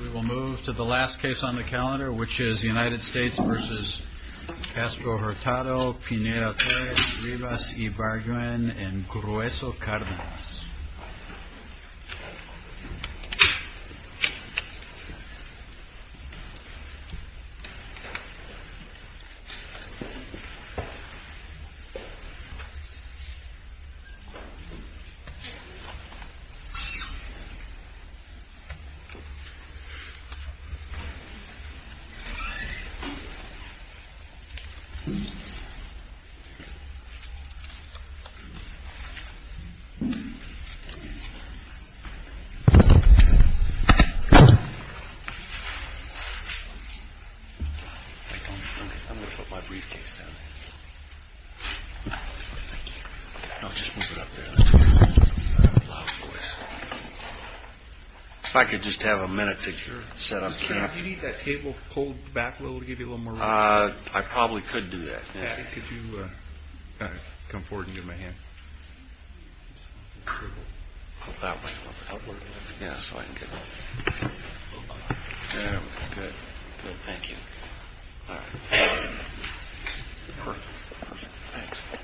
We will move to the last case on the calendar, which is United States v. Castro-Hurtado, Pineda-Torres, Rivas-Ibarguen, and Grueso-Cardenas. I'm going to put my briefcase down. I'll just move it up there. If I could just have a minute to get set up here. Do you need that table pulled back a little to give you a little more room? I probably could do that. Could you come forward and give me a hand? Pull it that way a little bit. Outward a little bit. Yeah, so I can get a little closer. There we go. Good. Good. Thank you. All right. Perfect. Thanks. Thank you.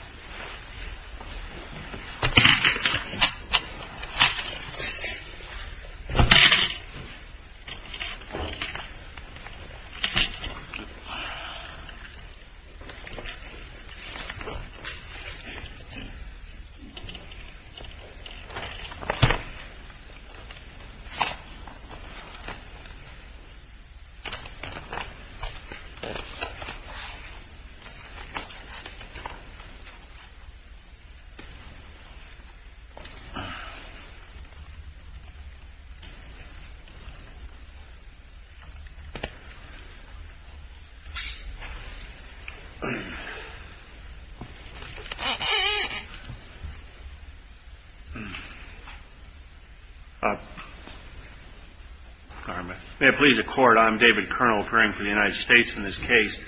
May it please the Court. I'm David Kernel occurring for the United States in this case.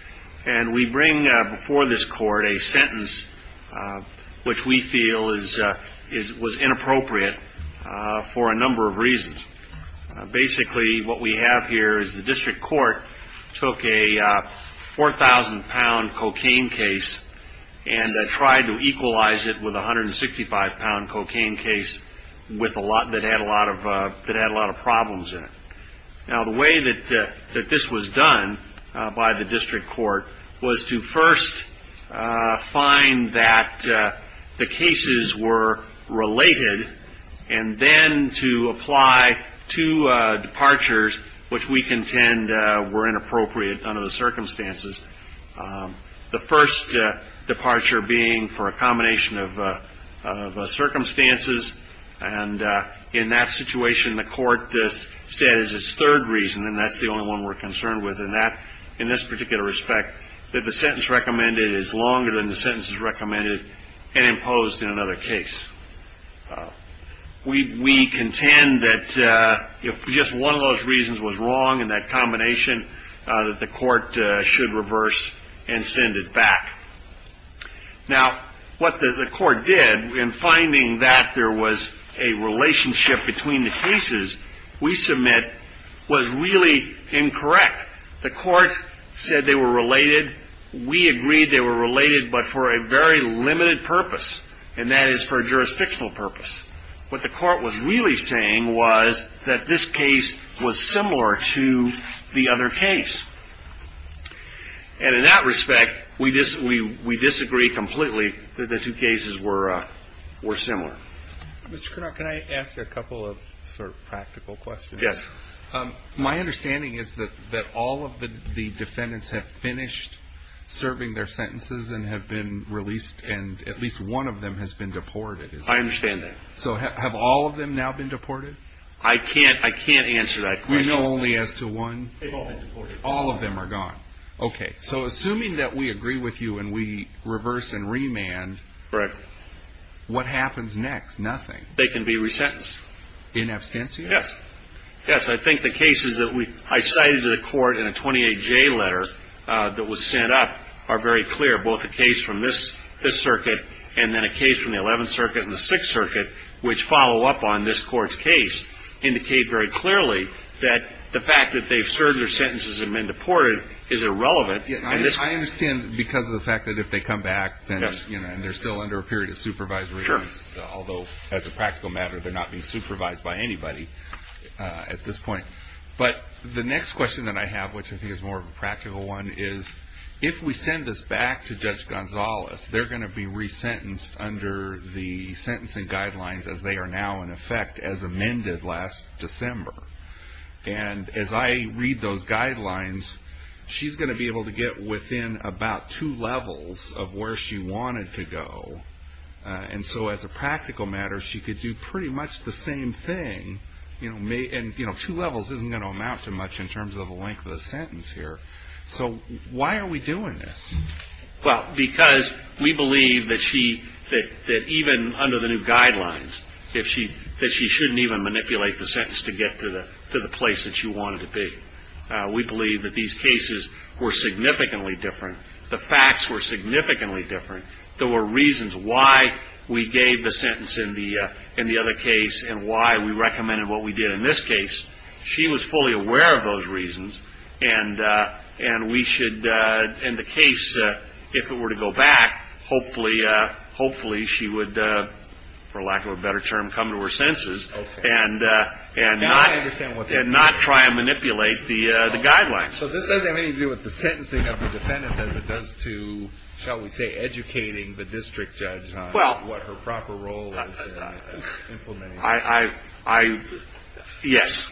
And we bring before this Court a sentence which we feel was inappropriate for a number of reasons. Basically what we have here is the district court took a 4,000-pound cocaine case and tried to equalize it with a 165-pound cocaine case that had a lot of problems in it. Now, the way that this was done by the district court was to first find that the cases were related and then to apply two departures which we contend were inappropriate under the circumstances, the first departure being for a combination of circumstances. And in that situation, the court said as its third reason, and that's the only one we're concerned with in this particular respect, that the sentence recommended is longer than the sentences recommended and imposed in another case. We contend that if just one of those reasons was wrong in that combination, that the court should reverse and send it back. Now, what the court did in finding that there was a relationship between the cases we submit was really incorrect. The court said they were related. We agreed they were related but for a very limited purpose, and that is for a jurisdictional purpose. What the court was really saying was that this case was similar to the other case. And in that respect, we disagree completely that the two cases were similar. Mr. Cournot, can I ask you a couple of sort of practical questions? Yes. My understanding is that all of the defendants have finished serving their sentences and have been released, and at least one of them has been deported. I understand that. So have all of them now been deported? I can't answer that question. We know only as to one? They've all been deported. All of them are gone. Okay. So assuming that we agree with you and we reverse and remand, what happens next? Nothing. They can be resentenced. In absentia? Yes. Yes, I think the cases that I cited to the court in a 28J letter that was sent up are very clear. Both the case from this circuit and then a case from the 11th Circuit and the 6th Circuit, which follow up on this Court's case, indicate very clearly that the fact that they've served their sentences and been deported is irrelevant. I understand because of the fact that if they come back, then they're still under a period of supervisory. Sure. Although, as a practical matter, they're not being supervised by anybody at this point. But the next question that I have, which I think is more of a practical one, is if we send this back to Judge Gonzalez, they're going to be resentenced under the sentencing guidelines as they are now in effect as amended last December. And as I read those guidelines, she's going to be able to get within about two levels of where she wanted to go. And so as a practical matter, she could do pretty much the same thing. And two levels isn't going to amount to much in terms of the length of the sentence here. So why are we doing this? Well, because we believe that she, that even under the new guidelines, that she shouldn't even manipulate the sentence to get to the place that she wanted to be. We believe that these cases were significantly different. The facts were significantly different. There were reasons why we gave the sentence in the other case and why we recommended what we did in this case. She was fully aware of those reasons. And we should, in the case, if it were to go back, hopefully she would, for lack of a better term, come to her senses. Okay. And not try and manipulate the guidelines. So this doesn't have anything to do with the sentencing of the defendants as it does to, shall we say, educating the district judge on what her proper role is in implementing. I, yes,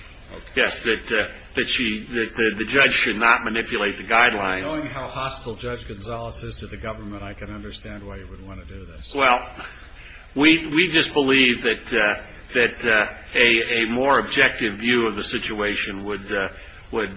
yes, that she, that the judge should not manipulate the guidelines. Knowing how hostile Judge Gonzales is to the government, I can understand why you would want to do this. Well, we just believe that a more objective view of the situation would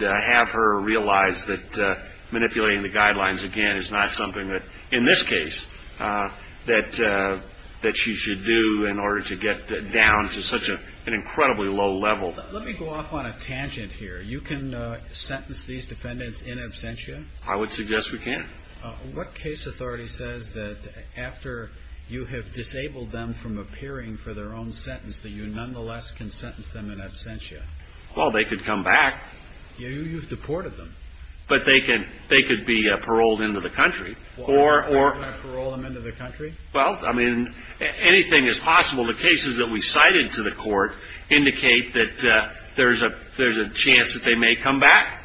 have her realize that manipulating the guidelines, again, is not something that, in this case, that she should do in order to get down to such an incredibly low level. Let me go off on a tangent here. You can sentence these defendants in absentia? I would suggest we can. What case authority says that after you have disabled them from appearing for their own sentence, that you nonetheless can sentence them in absentia? Well, they could come back. You've deported them. But they could be paroled into the country. You're going to parole them into the country? Well, I mean, anything is possible. The cases that we cited to the court indicate that there's a chance that they may come back.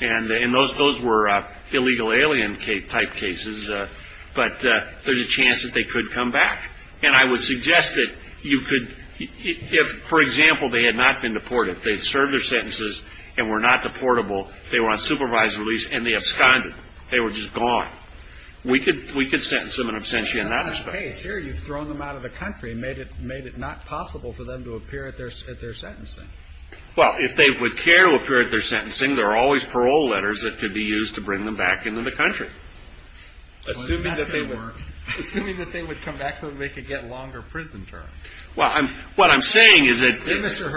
And those were illegal alien-type cases. But there's a chance that they could come back. And I would suggest that you could, if, for example, they had not been deported, if they had served their sentences and were not deportable, they were on supervised release and they absconded. They were just gone. We could sentence them in absentia in that respect. But in this case here, you've thrown them out of the country and made it not possible for them to appear at their sentencing. Well, if they would care to appear at their sentencing, there are always parole letters that could be used to bring them back into the country. Well, that's going to work. Assuming that they would come back so that they could get longer prison terms. Well, what I'm saying is that the ---- so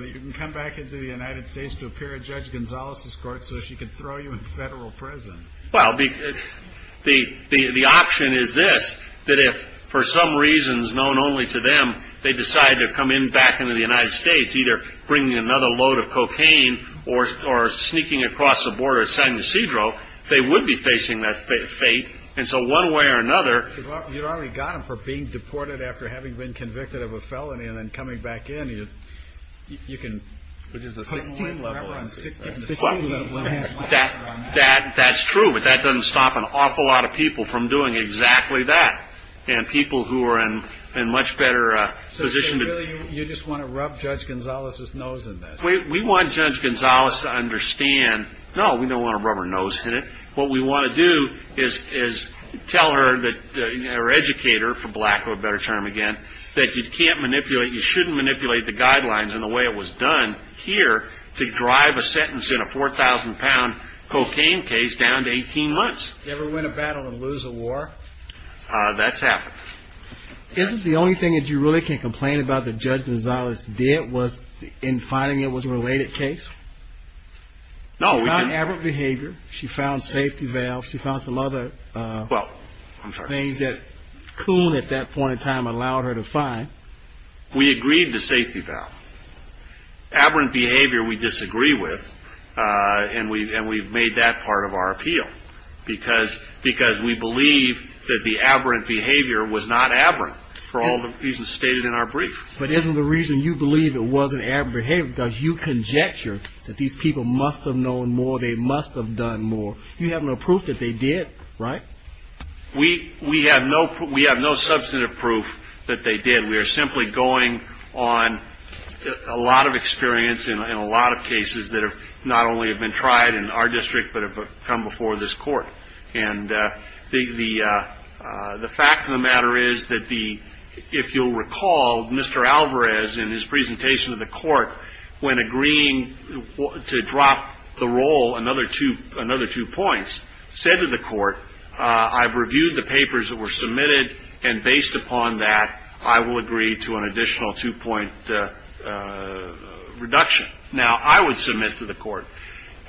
that you can come back into the United States to appear at Judge Gonzales' court so she could throw you in federal prison. Well, the option is this, that if, for some reasons known only to them, they decide to come in back into the United States, either bringing another load of cocaine or sneaking across the border to San Ysidro, they would be facing that fate. And so one way or another ---- You've already got them for being deported after having been convicted of a felony and then coming back in, you can, which is a 16-level ---- That's true, but that doesn't stop an awful lot of people from doing exactly that. And people who are in a much better position to ---- So really you just want to rub Judge Gonzales' nose in this? We want Judge Gonzales to understand, no, we don't want to rub her nose in it. What we want to do is tell her, or educate her, for lack of a better term again, that you can't manipulate, you shouldn't manipulate the guidelines in the way it was done here to drive a sentence in a 4,000-pound cocaine case down to 18 months. You ever win a battle and lose a war? That's happened. Isn't the only thing that you really can complain about that Judge Gonzales did was in finding it was a related case? No, we didn't. She found aberrant behavior. She found safety valves. She found some other things that Coon at that point in time allowed her to find. We agreed to safety valve. Aberrant behavior we disagree with, and we've made that part of our appeal because we believe that the aberrant behavior was not aberrant for all the reasons stated in our brief. But isn't the reason you believe it wasn't aberrant behavior because you conjecture that these people must have known more, they must have done more. You have no proof that they did, right? We have no substantive proof that they did. We are simply going on a lot of experience in a lot of cases that not only have been tried in our district but have come before this Court. And the fact of the matter is that if you'll recall, Mr. Alvarez in his presentation to the Court, when agreeing to drop the role another two points, said to the Court, I've reviewed the papers that were submitted, and based upon that, I will agree to an additional two-point reduction. Now, I would submit to the Court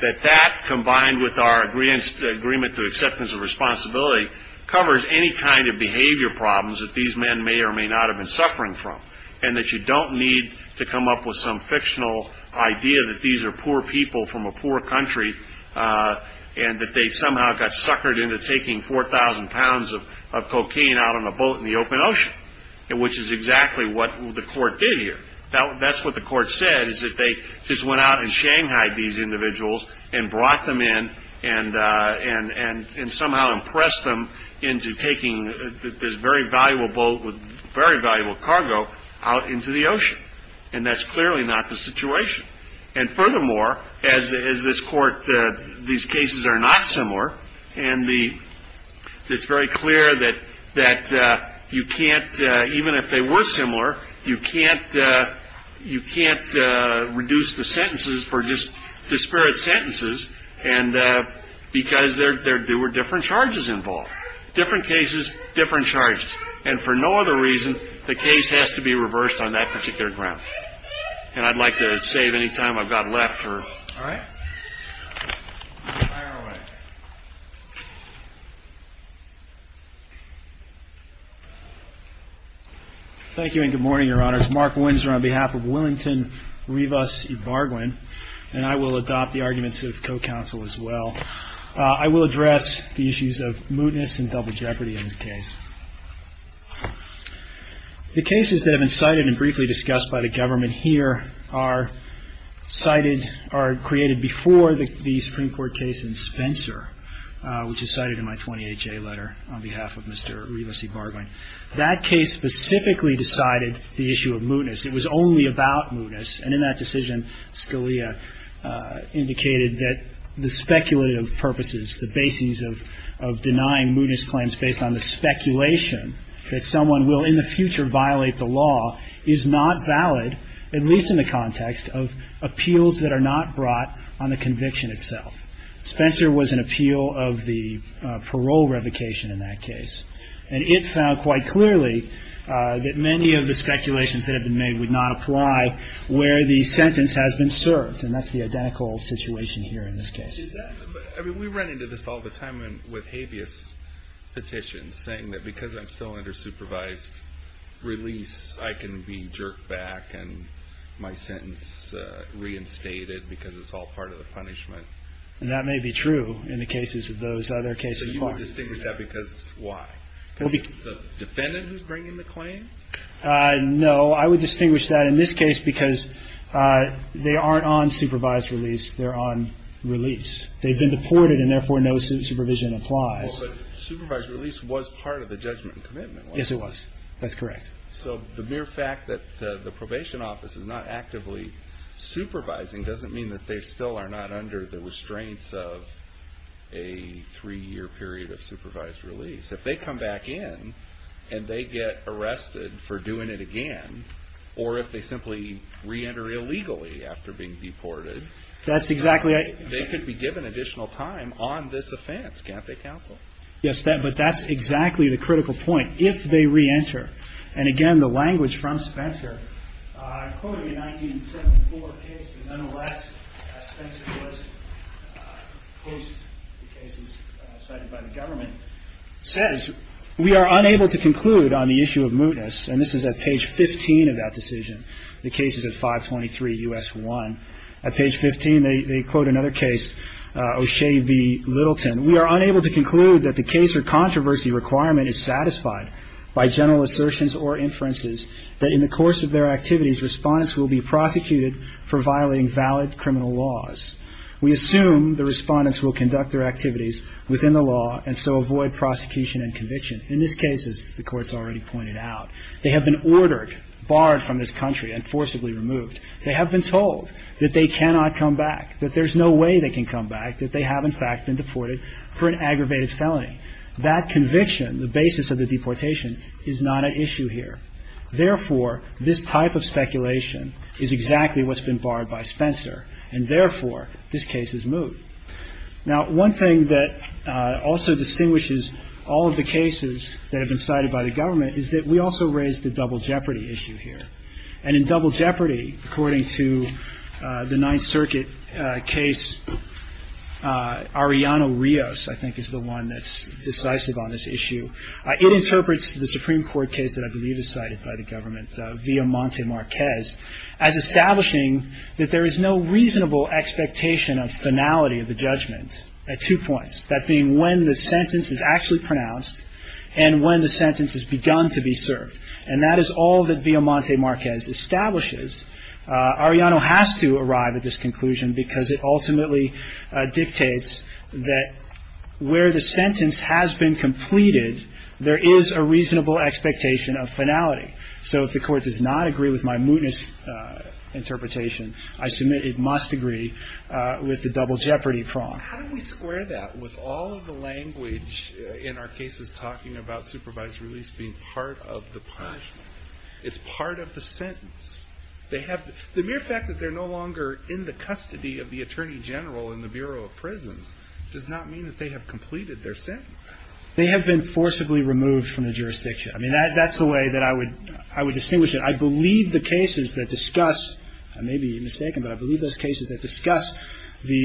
that that combined with our agreement to acceptance of responsibility covers any kind of behavior problems that these men may or may not have been suffering from and that you don't need to come up with some fictional idea that these are poor people from a poor country and that they somehow got suckered into taking 4,000 pounds of cocaine out on a boat in the open ocean, which is exactly what the Court did here. That's what the Court said, is that they just went out in Shanghai, these individuals, and brought them in and somehow impressed them into taking this very valuable boat with very valuable cargo out into the ocean. And that's clearly not the situation. And furthermore, as this Court, these cases are not similar, and it's very clear that you can't, even if they were similar, you can't reduce the sentences for disparate sentences because there were different charges involved, different cases, different charges. And for no other reason, the case has to be reversed on that particular ground. And I'd like to save any time I've got left. All right. Fire away. Thank you and good morning, Your Honors. Mark Windsor on behalf of Willington Rivas Ybarguen, and I will adopt the arguments of co-counsel as well. I will address the issues of mootness and double jeopardy in this case. The cases that have been cited and briefly discussed by the government here are cited or created before the Supreme Court case in Spencer, which is cited in my 28-J letter on behalf of Mr. Rivas Ybarguen. That case specifically decided the issue of mootness. It was only about mootness. And in that decision, Scalia indicated that the speculative purposes, the basis of denying mootness claims based on the speculation that someone will in the future violate the law is not valid, at least in the context of appeals that are not brought on the conviction itself. Spencer was an appeal of the parole revocation in that case. And it found quite clearly that many of the speculations that have been made would not apply where the sentence has been served. And that's the identical situation here in this case. We run into this all the time with habeas petitions, saying that because I'm still under supervised release, I can be jerked back and my sentence reinstated because it's all part of the punishment. And that may be true in the cases of those other cases. So you would distinguish that because why? Because it's the defendant who's bringing the claim? No. I would distinguish that in this case because they aren't on supervised release. They're on release. They've been deported, and therefore no supervision applies. Well, but supervised release was part of the judgment and commitment, wasn't it? Yes, it was. That's correct. So the mere fact that the probation office is not actively supervising doesn't mean that they still are not under the restraints of a three-year period of supervised release. If they come back in and they get arrested for doing it again, or if they simply re-enter illegally after being deported, they could be given additional time on this offense. Can't they counsel? Yes, but that's exactly the critical point. If they re-enter, and again, the language from Spencer, quoted in a 1974 case, but nonetheless, Spencer was opposed to cases cited by the government, says, we are unable to conclude on the issue of mootness. And this is at page 15 of that decision. The case is at 523 U.S. 1. At page 15, they quote another case, O'Shea v. Littleton. We are unable to conclude that the case or controversy requirement is satisfied by general assertions or inferences that in the course of their activities, respondents will be prosecuted for violating valid criminal laws. We assume the respondents will conduct their activities within the law and so avoid prosecution and conviction. In this case, as the Court's already pointed out, they have been ordered, barred from this country and forcibly removed. They have been told that they cannot come back, that there's no way they can come back, that they have, in fact, been deported for an aggravated felony. That conviction, the basis of the deportation, is not at issue here. Therefore, this type of speculation is exactly what's been barred by Spencer, and therefore, this case is moot. Now, one thing that also distinguishes all of the cases that have been cited by the government is that we also raised the double jeopardy issue here. And in double jeopardy, according to the Ninth Circuit case, Arianna Rios, I think, is the one that's decisive on this issue. It interprets the Supreme Court case that I believe is cited by the government, via Monte Marquez, as establishing that there is no reasonable expectation of finality of the judgment at two points, that being when the sentence is actually pronounced and when the sentence has begun to be served. And that is all that, via Monte Marquez, establishes. Arianna has to arrive at this conclusion because it ultimately dictates that where the sentence has been completed, there is a reasonable expectation of finality. So if the Court does not agree with my mootness interpretation, I submit it must agree with the double jeopardy prong. How do we square that with all of the language in our cases talking about supervised release being part of the punishment? It's part of the sentence. The mere fact that they're no longer in the custody of the Attorney General in the Bureau of Prisons does not mean that they have completed their sentence. They have been forcibly removed from the jurisdiction. I mean, that's the way that I would distinguish it. I believe the cases that discuss, I may be mistaken, but I believe those cases that discuss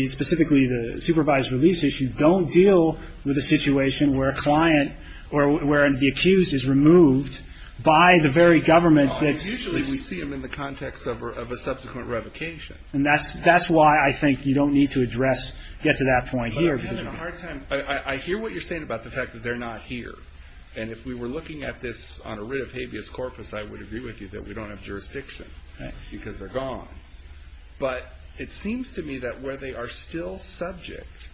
specifically the supervised release issue don't deal with a situation where a client or where the accused is removed by the very government. Usually we see them in the context of a subsequent revocation. And that's why I think you don't need to address, get to that point here. But I'm having a hard time. I hear what you're saying about the fact that they're not here. And if we were looking at this on a writ of habeas corpus, I would agree with you that we don't have jurisdiction because they're gone. But it seems to me that where they are still subject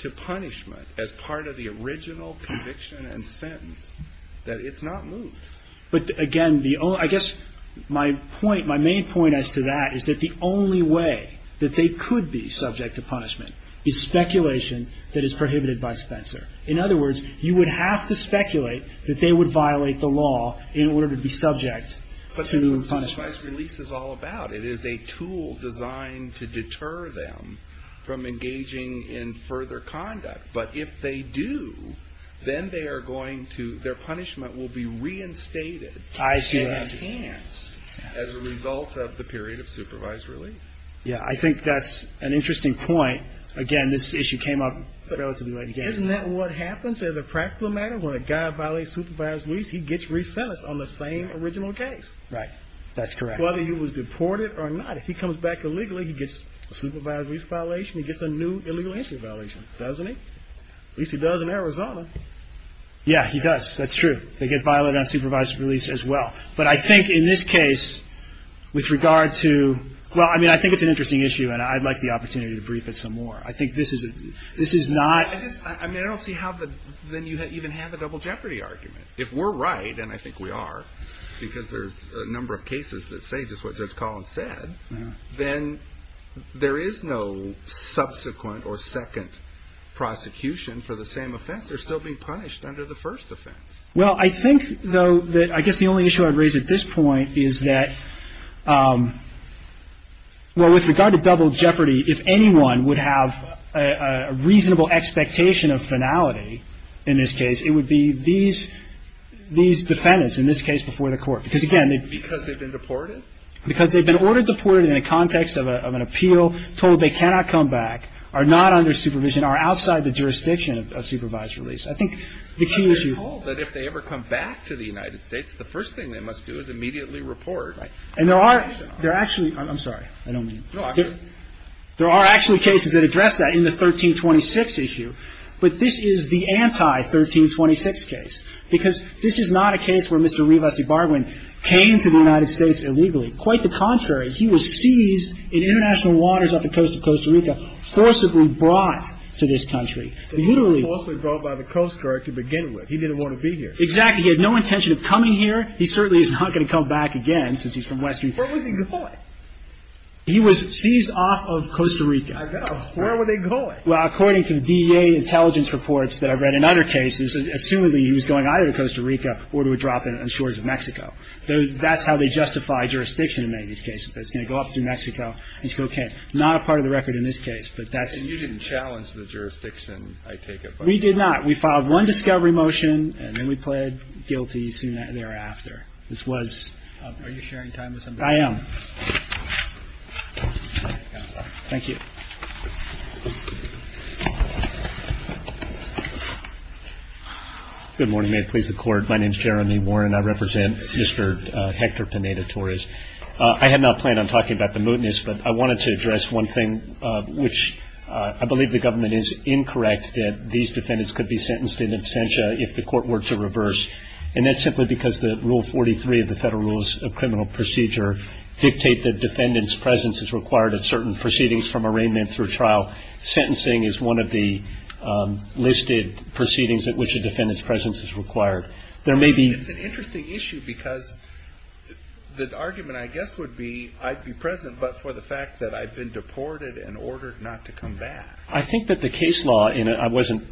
to punishment as part of the original conviction and sentence, that it's not moved. But again, I guess my main point as to that is that the only way that they could be subject to punishment is speculation that is prohibited by Spencer. In other words, you would have to speculate that they would violate the law in order to be subject to punishment. But that's what supervised release is all about. It is a tool designed to deter them from engaging in further conduct. But if they do, then they are going to, their punishment will be reinstated. I see that. And enhanced as a result of the period of supervised release. Yeah, I think that's an interesting point. Again, this issue came up relatively late in the case. Isn't that what happens as a practical matter? When a guy violates supervised release, he gets re-sentenced on the same original case. Right, that's correct. Whether he was deported or not. If he comes back illegally, he gets a supervised release violation. He gets a new illegal entry violation. Doesn't he? At least he does in Arizona. Yeah, he does. That's true. They get violated on supervised release as well. But I think in this case, with regard to, well, I mean, I think it's an interesting issue. And I'd like the opportunity to brief it some more. I think this is not. I just, I mean, I don't see how then you even have a double jeopardy argument. If we're right, and I think we are, because there's a number of cases that say just what Judge Collins said, then there is no subsequent or second prosecution for the same offense. They're still being punished under the first offense. Well, I think, though, that I guess the only issue I'd raise at this point is that, well, with regard to double jeopardy, if anyone would have a reasonable expectation of finality in this case, it would be these defendants, in this case, before the court. Because, again, they've. Because they've been deported? Because they've been ordered deported in the context of an appeal, told they cannot come back, are not under supervision, are outside the jurisdiction of supervised release. I think the key issue. But they're told that if they ever come back to the United States, the first thing they must do is immediately report. And there are. They're actually. I'm sorry. I don't mean. There are actually cases that address that in the 1326 issue. But this is the anti-1326 case. Because this is not a case where Mr. Rivas Ibarguen came to the United States illegally. Quite the contrary. He was seized in international waters off the coast of Costa Rica, forcibly brought to this country. He literally. He was forcibly brought by the Coast Guard to begin with. He didn't want to be here. Exactly. He had no intention of coming here. He certainly is not going to come back again since he's from Western. Where was he going? He was seized off of Costa Rica. I know. Where were they going? Well, according to the DEA intelligence reports that I've read in other cases, assumedly he was going either to Costa Rica or to a drop in the shores of Mexico. That's how they justify jurisdiction in many of these cases. That's going to go up through Mexico and say, okay, not a part of the record in this case. But that's. And you didn't challenge the jurisdiction, I take it. We did not. We filed one discovery motion and then we pled guilty soon thereafter. This was. Are you sharing time with somebody? I am. Thank you. Good morning. May it please the Court. My name is Jeremy Warren. I represent Mr. Hector Pineda-Torres. I had not planned on talking about the mootness, but I wanted to address one thing, which I believe the government is incorrect that these defendants could be sentenced in absentia if the court were to reverse. And that's simply because the Rule 43 of the Federal Rules of Criminal Procedure dictate that defendants' presence is required at certain proceedings from arraignment through trial. Sentencing is one of the listed proceedings at which a defendant's presence is required. There may be. It's an interesting issue because the argument, I guess, would be I'd be present, but for the fact that I've been deported and ordered not to come back. I think that the case law, and I wasn't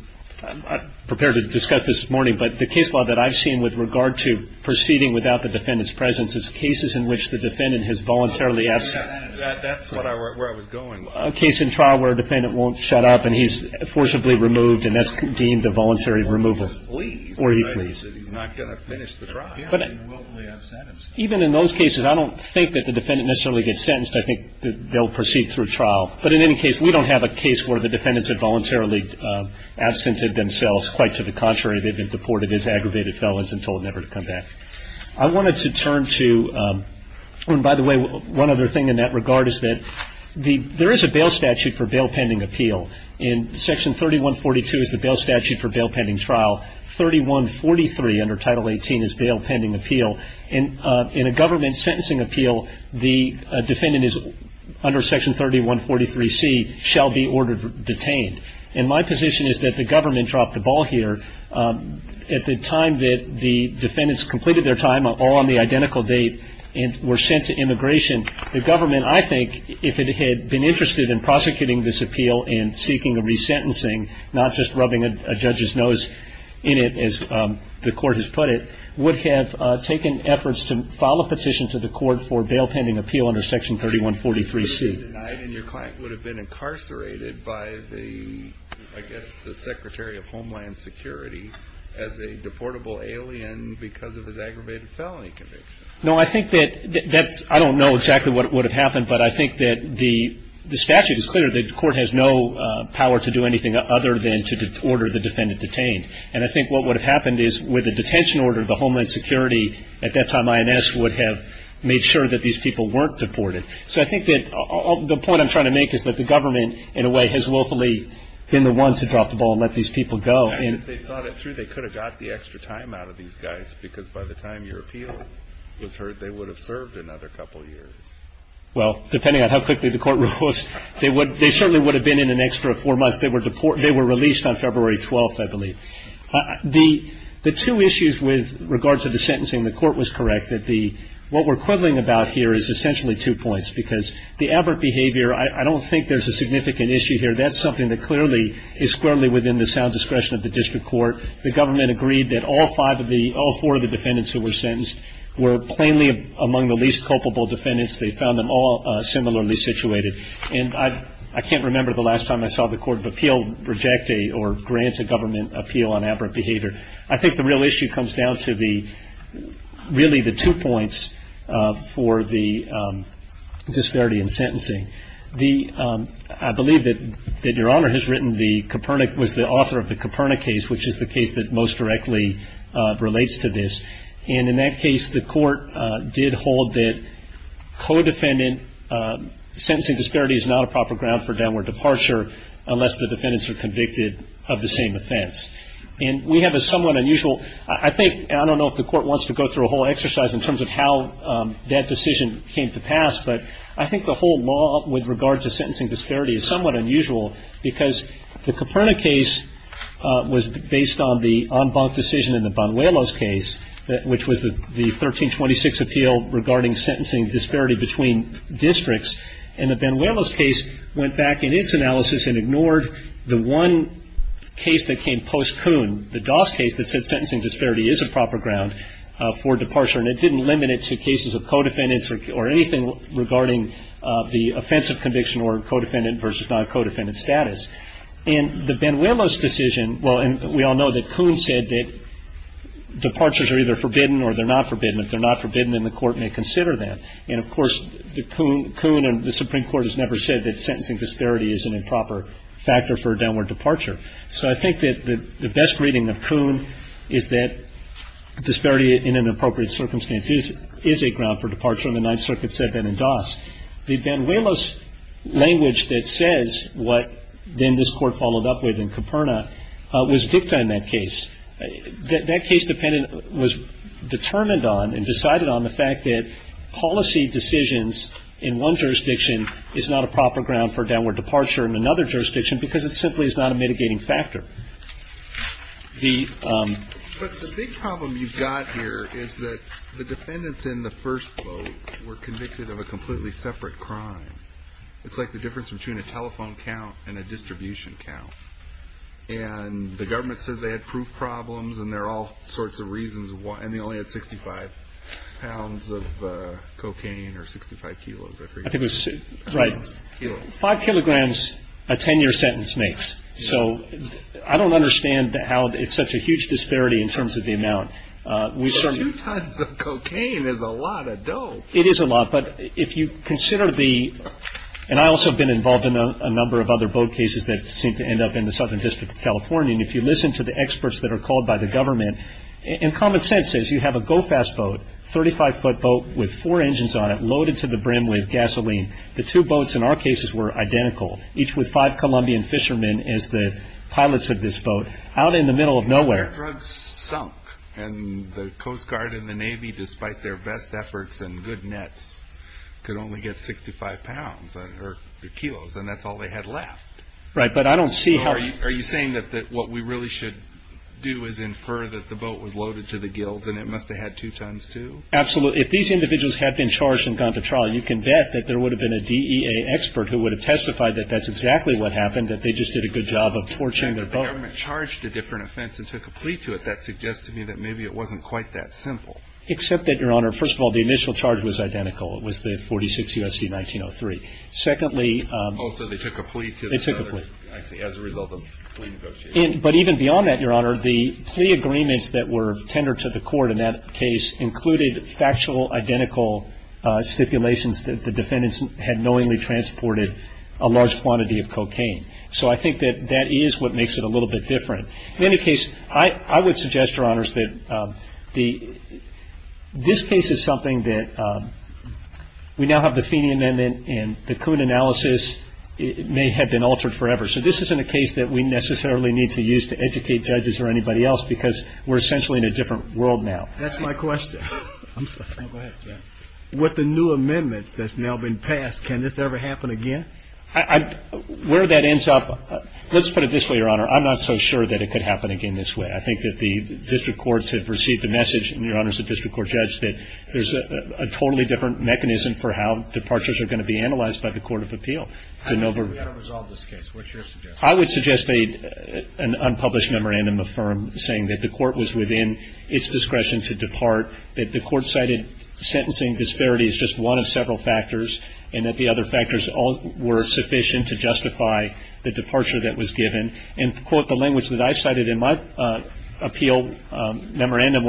prepared to discuss this morning, but the case law that I've seen with regard to proceeding without the defendant's presence is cases in which the defendant has voluntarily absent. That's where I was going. A case in trial where a defendant won't shut up and he's forcibly removed and that's deemed a voluntary removal. Or he flees. Or he flees. He's not going to finish the trial. Yeah. He won't be absent. Even in those cases, I don't think that the defendant necessarily gets sentenced. I think they'll proceed through trial. But in any case, we don't have a case where the defendants have voluntarily absented themselves. Quite to the contrary, they've been deported as aggravated felons and told never to come back. I wanted to turn to, and by the way, one other thing in that regard is that there is a bail statute for bail pending appeal. And Section 3142 is the bail statute for bail pending trial. 3143 under Title 18 is bail pending appeal. In a government sentencing appeal, the defendant is under Section 3143C, shall be ordered detained. And my position is that the government dropped the ball here. At the time that the defendants completed their time, all on the identical date, and were sent to immigration, the government, I think, if it had been interested in prosecuting this appeal and seeking a resentencing, not just rubbing a judge's nose in it, as the court has put it, would have taken efforts to file a petition to the court for bail pending appeal under Section 3143C. And your client would have been incarcerated by the, I guess, the Secretary of Homeland Security as a deportable alien because of his aggravated felony conviction. No, I think that that's, I don't know exactly what would have happened, but I think that the statute is clear. The court has no power to do anything other than to order the defendant detained. And I think what would have happened is with a detention order, the Homeland Security at that time, IMS, would have made sure that these people weren't deported. So I think that the point I'm trying to make is that the government, in a way, has willfully been the one to drop the ball and let these people go. And if they thought it through, they could have got the extra time out of these guys because by the time your appeal was heard, they would have served another couple years. Well, depending on how quickly the court rules, they certainly would have been in an extra four months. They were released on February 12th, I believe. The two issues with regards to the sentencing, the court was correct. What we're quibbling about here is essentially two points because the aberrant behavior, I don't think there's a significant issue here. That's something that clearly is squarely within the sound discretion of the district court. The government agreed that all four of the defendants who were sentenced were plainly among the least culpable defendants. They found them all similarly situated. And I can't remember the last time I saw the court of appeal reject a or grant a government appeal on aberrant behavior. I think the real issue comes down to really the two points for the disparity in sentencing. I believe that Your Honor has written the Copernic, was the author of the Copernic case, which is the case that most directly relates to this. And in that case, the court did hold that co-defendant sentencing disparity is not a proper ground for downward departure unless the defendants are convicted of the same offense. And we have a somewhat unusual, I think, and I don't know if the court wants to go through a whole exercise in terms of how that decision came to pass, but I think the whole law with regards to sentencing disparity is somewhat unusual because the Copernic case was based on the en banc decision in the Banuelos case, which was the 1326 appeal regarding sentencing disparity between districts. And the Banuelos case went back in its analysis and ignored the one case that came post coon, the Doss case, that said sentencing disparity is a proper ground for departure. And it didn't limit it to cases of co-defendants or anything regarding the offensive conviction or co-defendant versus non-co-defendant status. In the Banuelos decision, well, and we all know that Coon said that departures are either forbidden or they're not forbidden. If they're not forbidden, then the court may consider them. And, of course, Coon and the Supreme Court has never said that sentencing disparity is an improper factor for a downward departure. So I think that the best reading of Coon is that disparity in an appropriate circumstance is a ground for departure, and the Ninth Circuit said that in Doss. The Banuelos language that says what then this Court followed up with in Caperna was dicta in that case. That case dependent was determined on and decided on the fact that policy decisions in one jurisdiction is not a proper ground for downward departure in another jurisdiction because it simply is not a mitigating factor. But the big problem you've got here is that the defendants in the first quote were convicted of a completely separate crime. It's like the difference between a telephone count and a distribution count. And the government says they had proof problems, and there are all sorts of reasons why, and they only had 65 pounds of cocaine or 65 kilos. Right. Five kilograms a 10-year sentence makes. So I don't understand how it's such a huge disparity in terms of the amount. Two tons of cocaine is a lot of dough. It is a lot. But if you consider the – and I also have been involved in a number of other boat cases that seem to end up in the Southern District of California, and if you listen to the experts that are called by the government, and common sense says you have a go-fast boat, 35-foot boat with four engines on it loaded to the brim with gasoline. The two boats in our cases were identical, each with five Colombian fishermen as the pilots of this boat out in the middle of nowhere. Their drugs sunk, and the Coast Guard and the Navy, despite their best efforts and good nets, could only get 65 pounds or kilos, and that's all they had left. Right, but I don't see how – Are you saying that what we really should do is infer that the boat was loaded to the gills, and it must have had two tons, too? Absolutely. If these individuals had been charged and gone to trial, you can bet that there would have been a DEA expert who would have testified that that's exactly what happened, that they just did a good job of torching their boat. The government charged a different offense and took a plea to it. That suggests to me that maybe it wasn't quite that simple. Except that, Your Honor, first of all, the initial charge was identical. It was the 46 U.S.C. 1903. Secondly – Oh, so they took a plea to the – They took a plea. I see, as a result of plea negotiations. But even beyond that, Your Honor, the plea agreements that were tendered to the court in that case included factual, identical stipulations that the defendants had knowingly transported a large quantity of cocaine. So I think that that is what makes it a little bit different. In any case, I would suggest, Your Honors, that this case is something that – we now have the Feeney Amendment and the Coon analysis may have been altered forever. So this isn't a case that we necessarily need to use to educate judges or anybody else because we're essentially in a different world now. That's my question. I'm sorry. Go ahead, Jeff. With the new amendments that's now been passed, can this ever happen again? Where that ends up – let's put it this way, Your Honor. I'm not so sure that it could happen again this way. I think that the district courts have received the message, and Your Honor, as a district court judge, that there's a totally different mechanism for how departures are going to be analyzed by the court of appeal. We've got to resolve this case. What's your suggestion? I would suggest an unpublished memorandum of firm saying that the court was within its discretion to depart, that the court cited sentencing disparities as just one of several factors, and that the other factors were sufficient to justify the departure that was given, and to quote the language that I cited in my appeal memorandum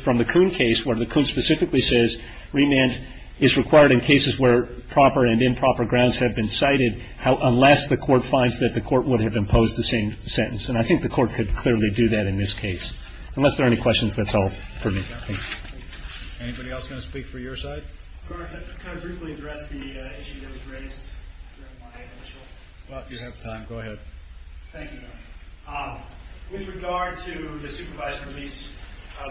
from the Kuhn case, where the Kuhn specifically says remand is required in cases where proper and improper grounds have been cited, unless the court finds that the court would have imposed the same sentence. And I think the court could clearly do that in this case. Unless there are any questions, that's all for me. Thank you. Anybody else going to speak for your side? Can I briefly address the issue that was raised? Well, if you have time, go ahead. Thank you, Your Honor. With regard to the supervised release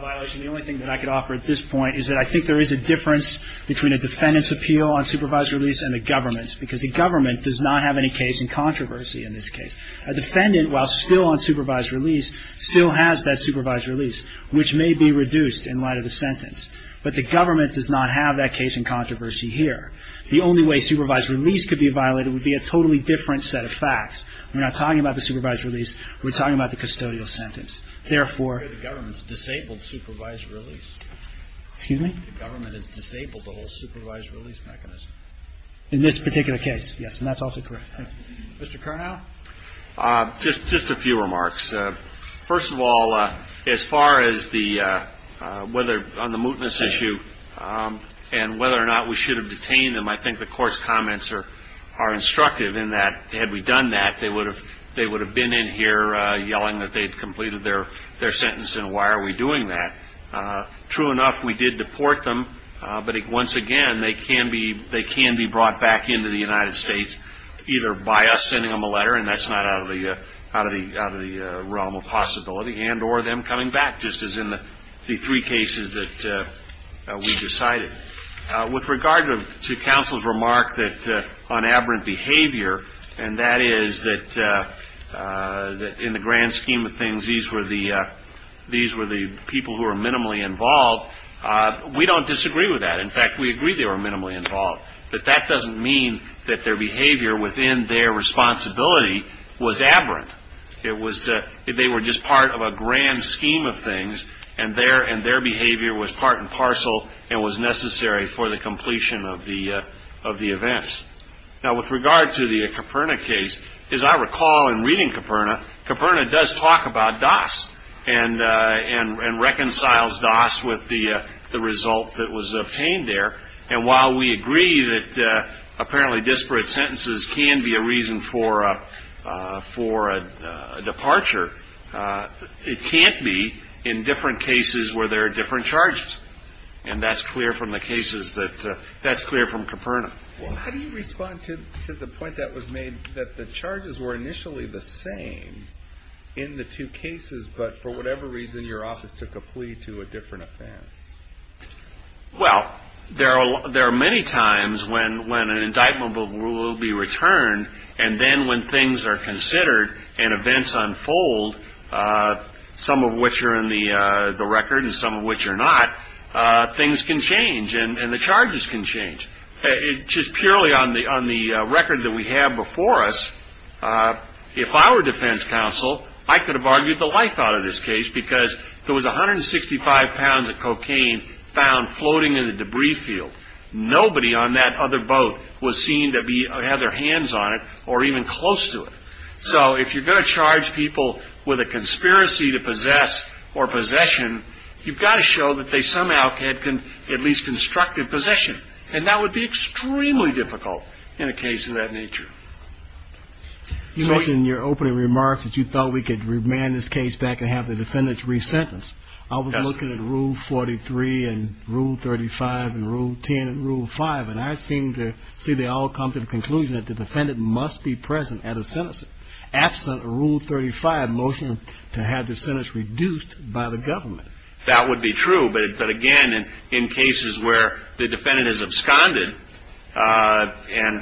violation, the only thing that I could offer at this point is that I think there is a difference between a defendant's appeal on supervised release and the government's, because the government does not have any case in controversy in this case. A defendant, while still on supervised release, still has that supervised release, which may be reduced in light of the sentence. But the government does not have that case in controversy here. The only way supervised release could be violated would be a totally different set of facts. We're not talking about the supervised release. We're talking about the custodial sentence. Therefore the government's disabled supervised release. Excuse me? The government has disabled the whole supervised release mechanism. In this particular case, yes, and that's also correct. Mr. Curnow? Just a few remarks. First of all, as far as the whether on the mootness issue and whether or not we should have detained them, I think the court's comments are instructive in that had we done that, they would have been in here yelling that they'd completed their sentence, and why are we doing that? True enough, we did deport them, but once again, they can be brought back into the United States either by us sending them a letter, and that's not out of the realm of possibility, and or them coming back just as in the three cases that we decided. With regard to counsel's remark on aberrant behavior, and that is that in the grand scheme of things these were the people who were minimally involved, we don't disagree with that. In fact, we agree they were minimally involved. But that doesn't mean that their behavior within their responsibility was aberrant. They were just part of a grand scheme of things, and their behavior was part and parcel and was necessary for the completion of the events. Now, with regard to the Caperna case, as I recall in reading Caperna, Caperna does talk about Doss and reconciles Doss with the result that was obtained there, and while we agree that apparently disparate sentences can be a reason for a departure, it can't be in different cases where there are different charges, and that's clear from the cases that that's clear from Caperna. How do you respond to the point that was made that the charges were initially the same in the two cases, but for whatever reason your office took a plea to a different offense? Well, there are many times when an indictment will be returned, and then when things are considered and events unfold, some of which are in the record and some of which are not, things can change and the charges can change. Just purely on the record that we have before us, if I were defense counsel, I could have argued the life out of this case because there was 165 pounds of cocaine found floating in the debris field. Nobody on that other boat was seen to have their hands on it or even close to it. So if you're going to charge people with a conspiracy to possess or possession, you've got to show that they somehow had at least constructed possession, and that would be extremely difficult in a case of that nature. You mentioned in your opening remarks that you thought we could remand this case back and have the defendants resentenced. I was looking at Rule 43 and Rule 35 and Rule 10 and Rule 5, and I seem to see they all come to the conclusion that the defendant must be present at a sentencing. Absent Rule 35 motion to have the sentence reduced by the government. That would be true, but again, in cases where the defendant is absconded and I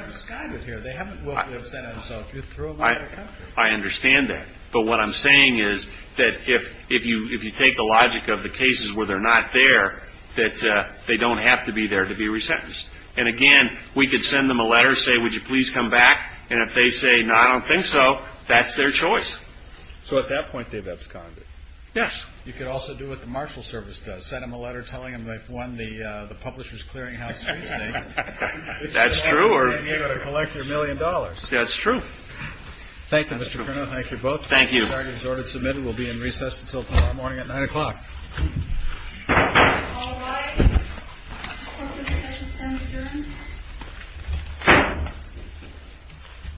understand that. But what I'm saying is that if you take the logic of the cases where they're not there, that they don't have to be there to be resentenced. And again, we could send them a letter, say, would you please come back, and if they say, no, I don't think so, that's their choice. So at that point they've absconded. Yes. You could also do what the marshal service does, send them a letter telling them they've won the That's true. Thank you, Mr. Colonel. Thank you both. Thank you. Target is ordered to submit. It will be in recess until tomorrow morning at 9 o'clock. All rise. Court is adjourned.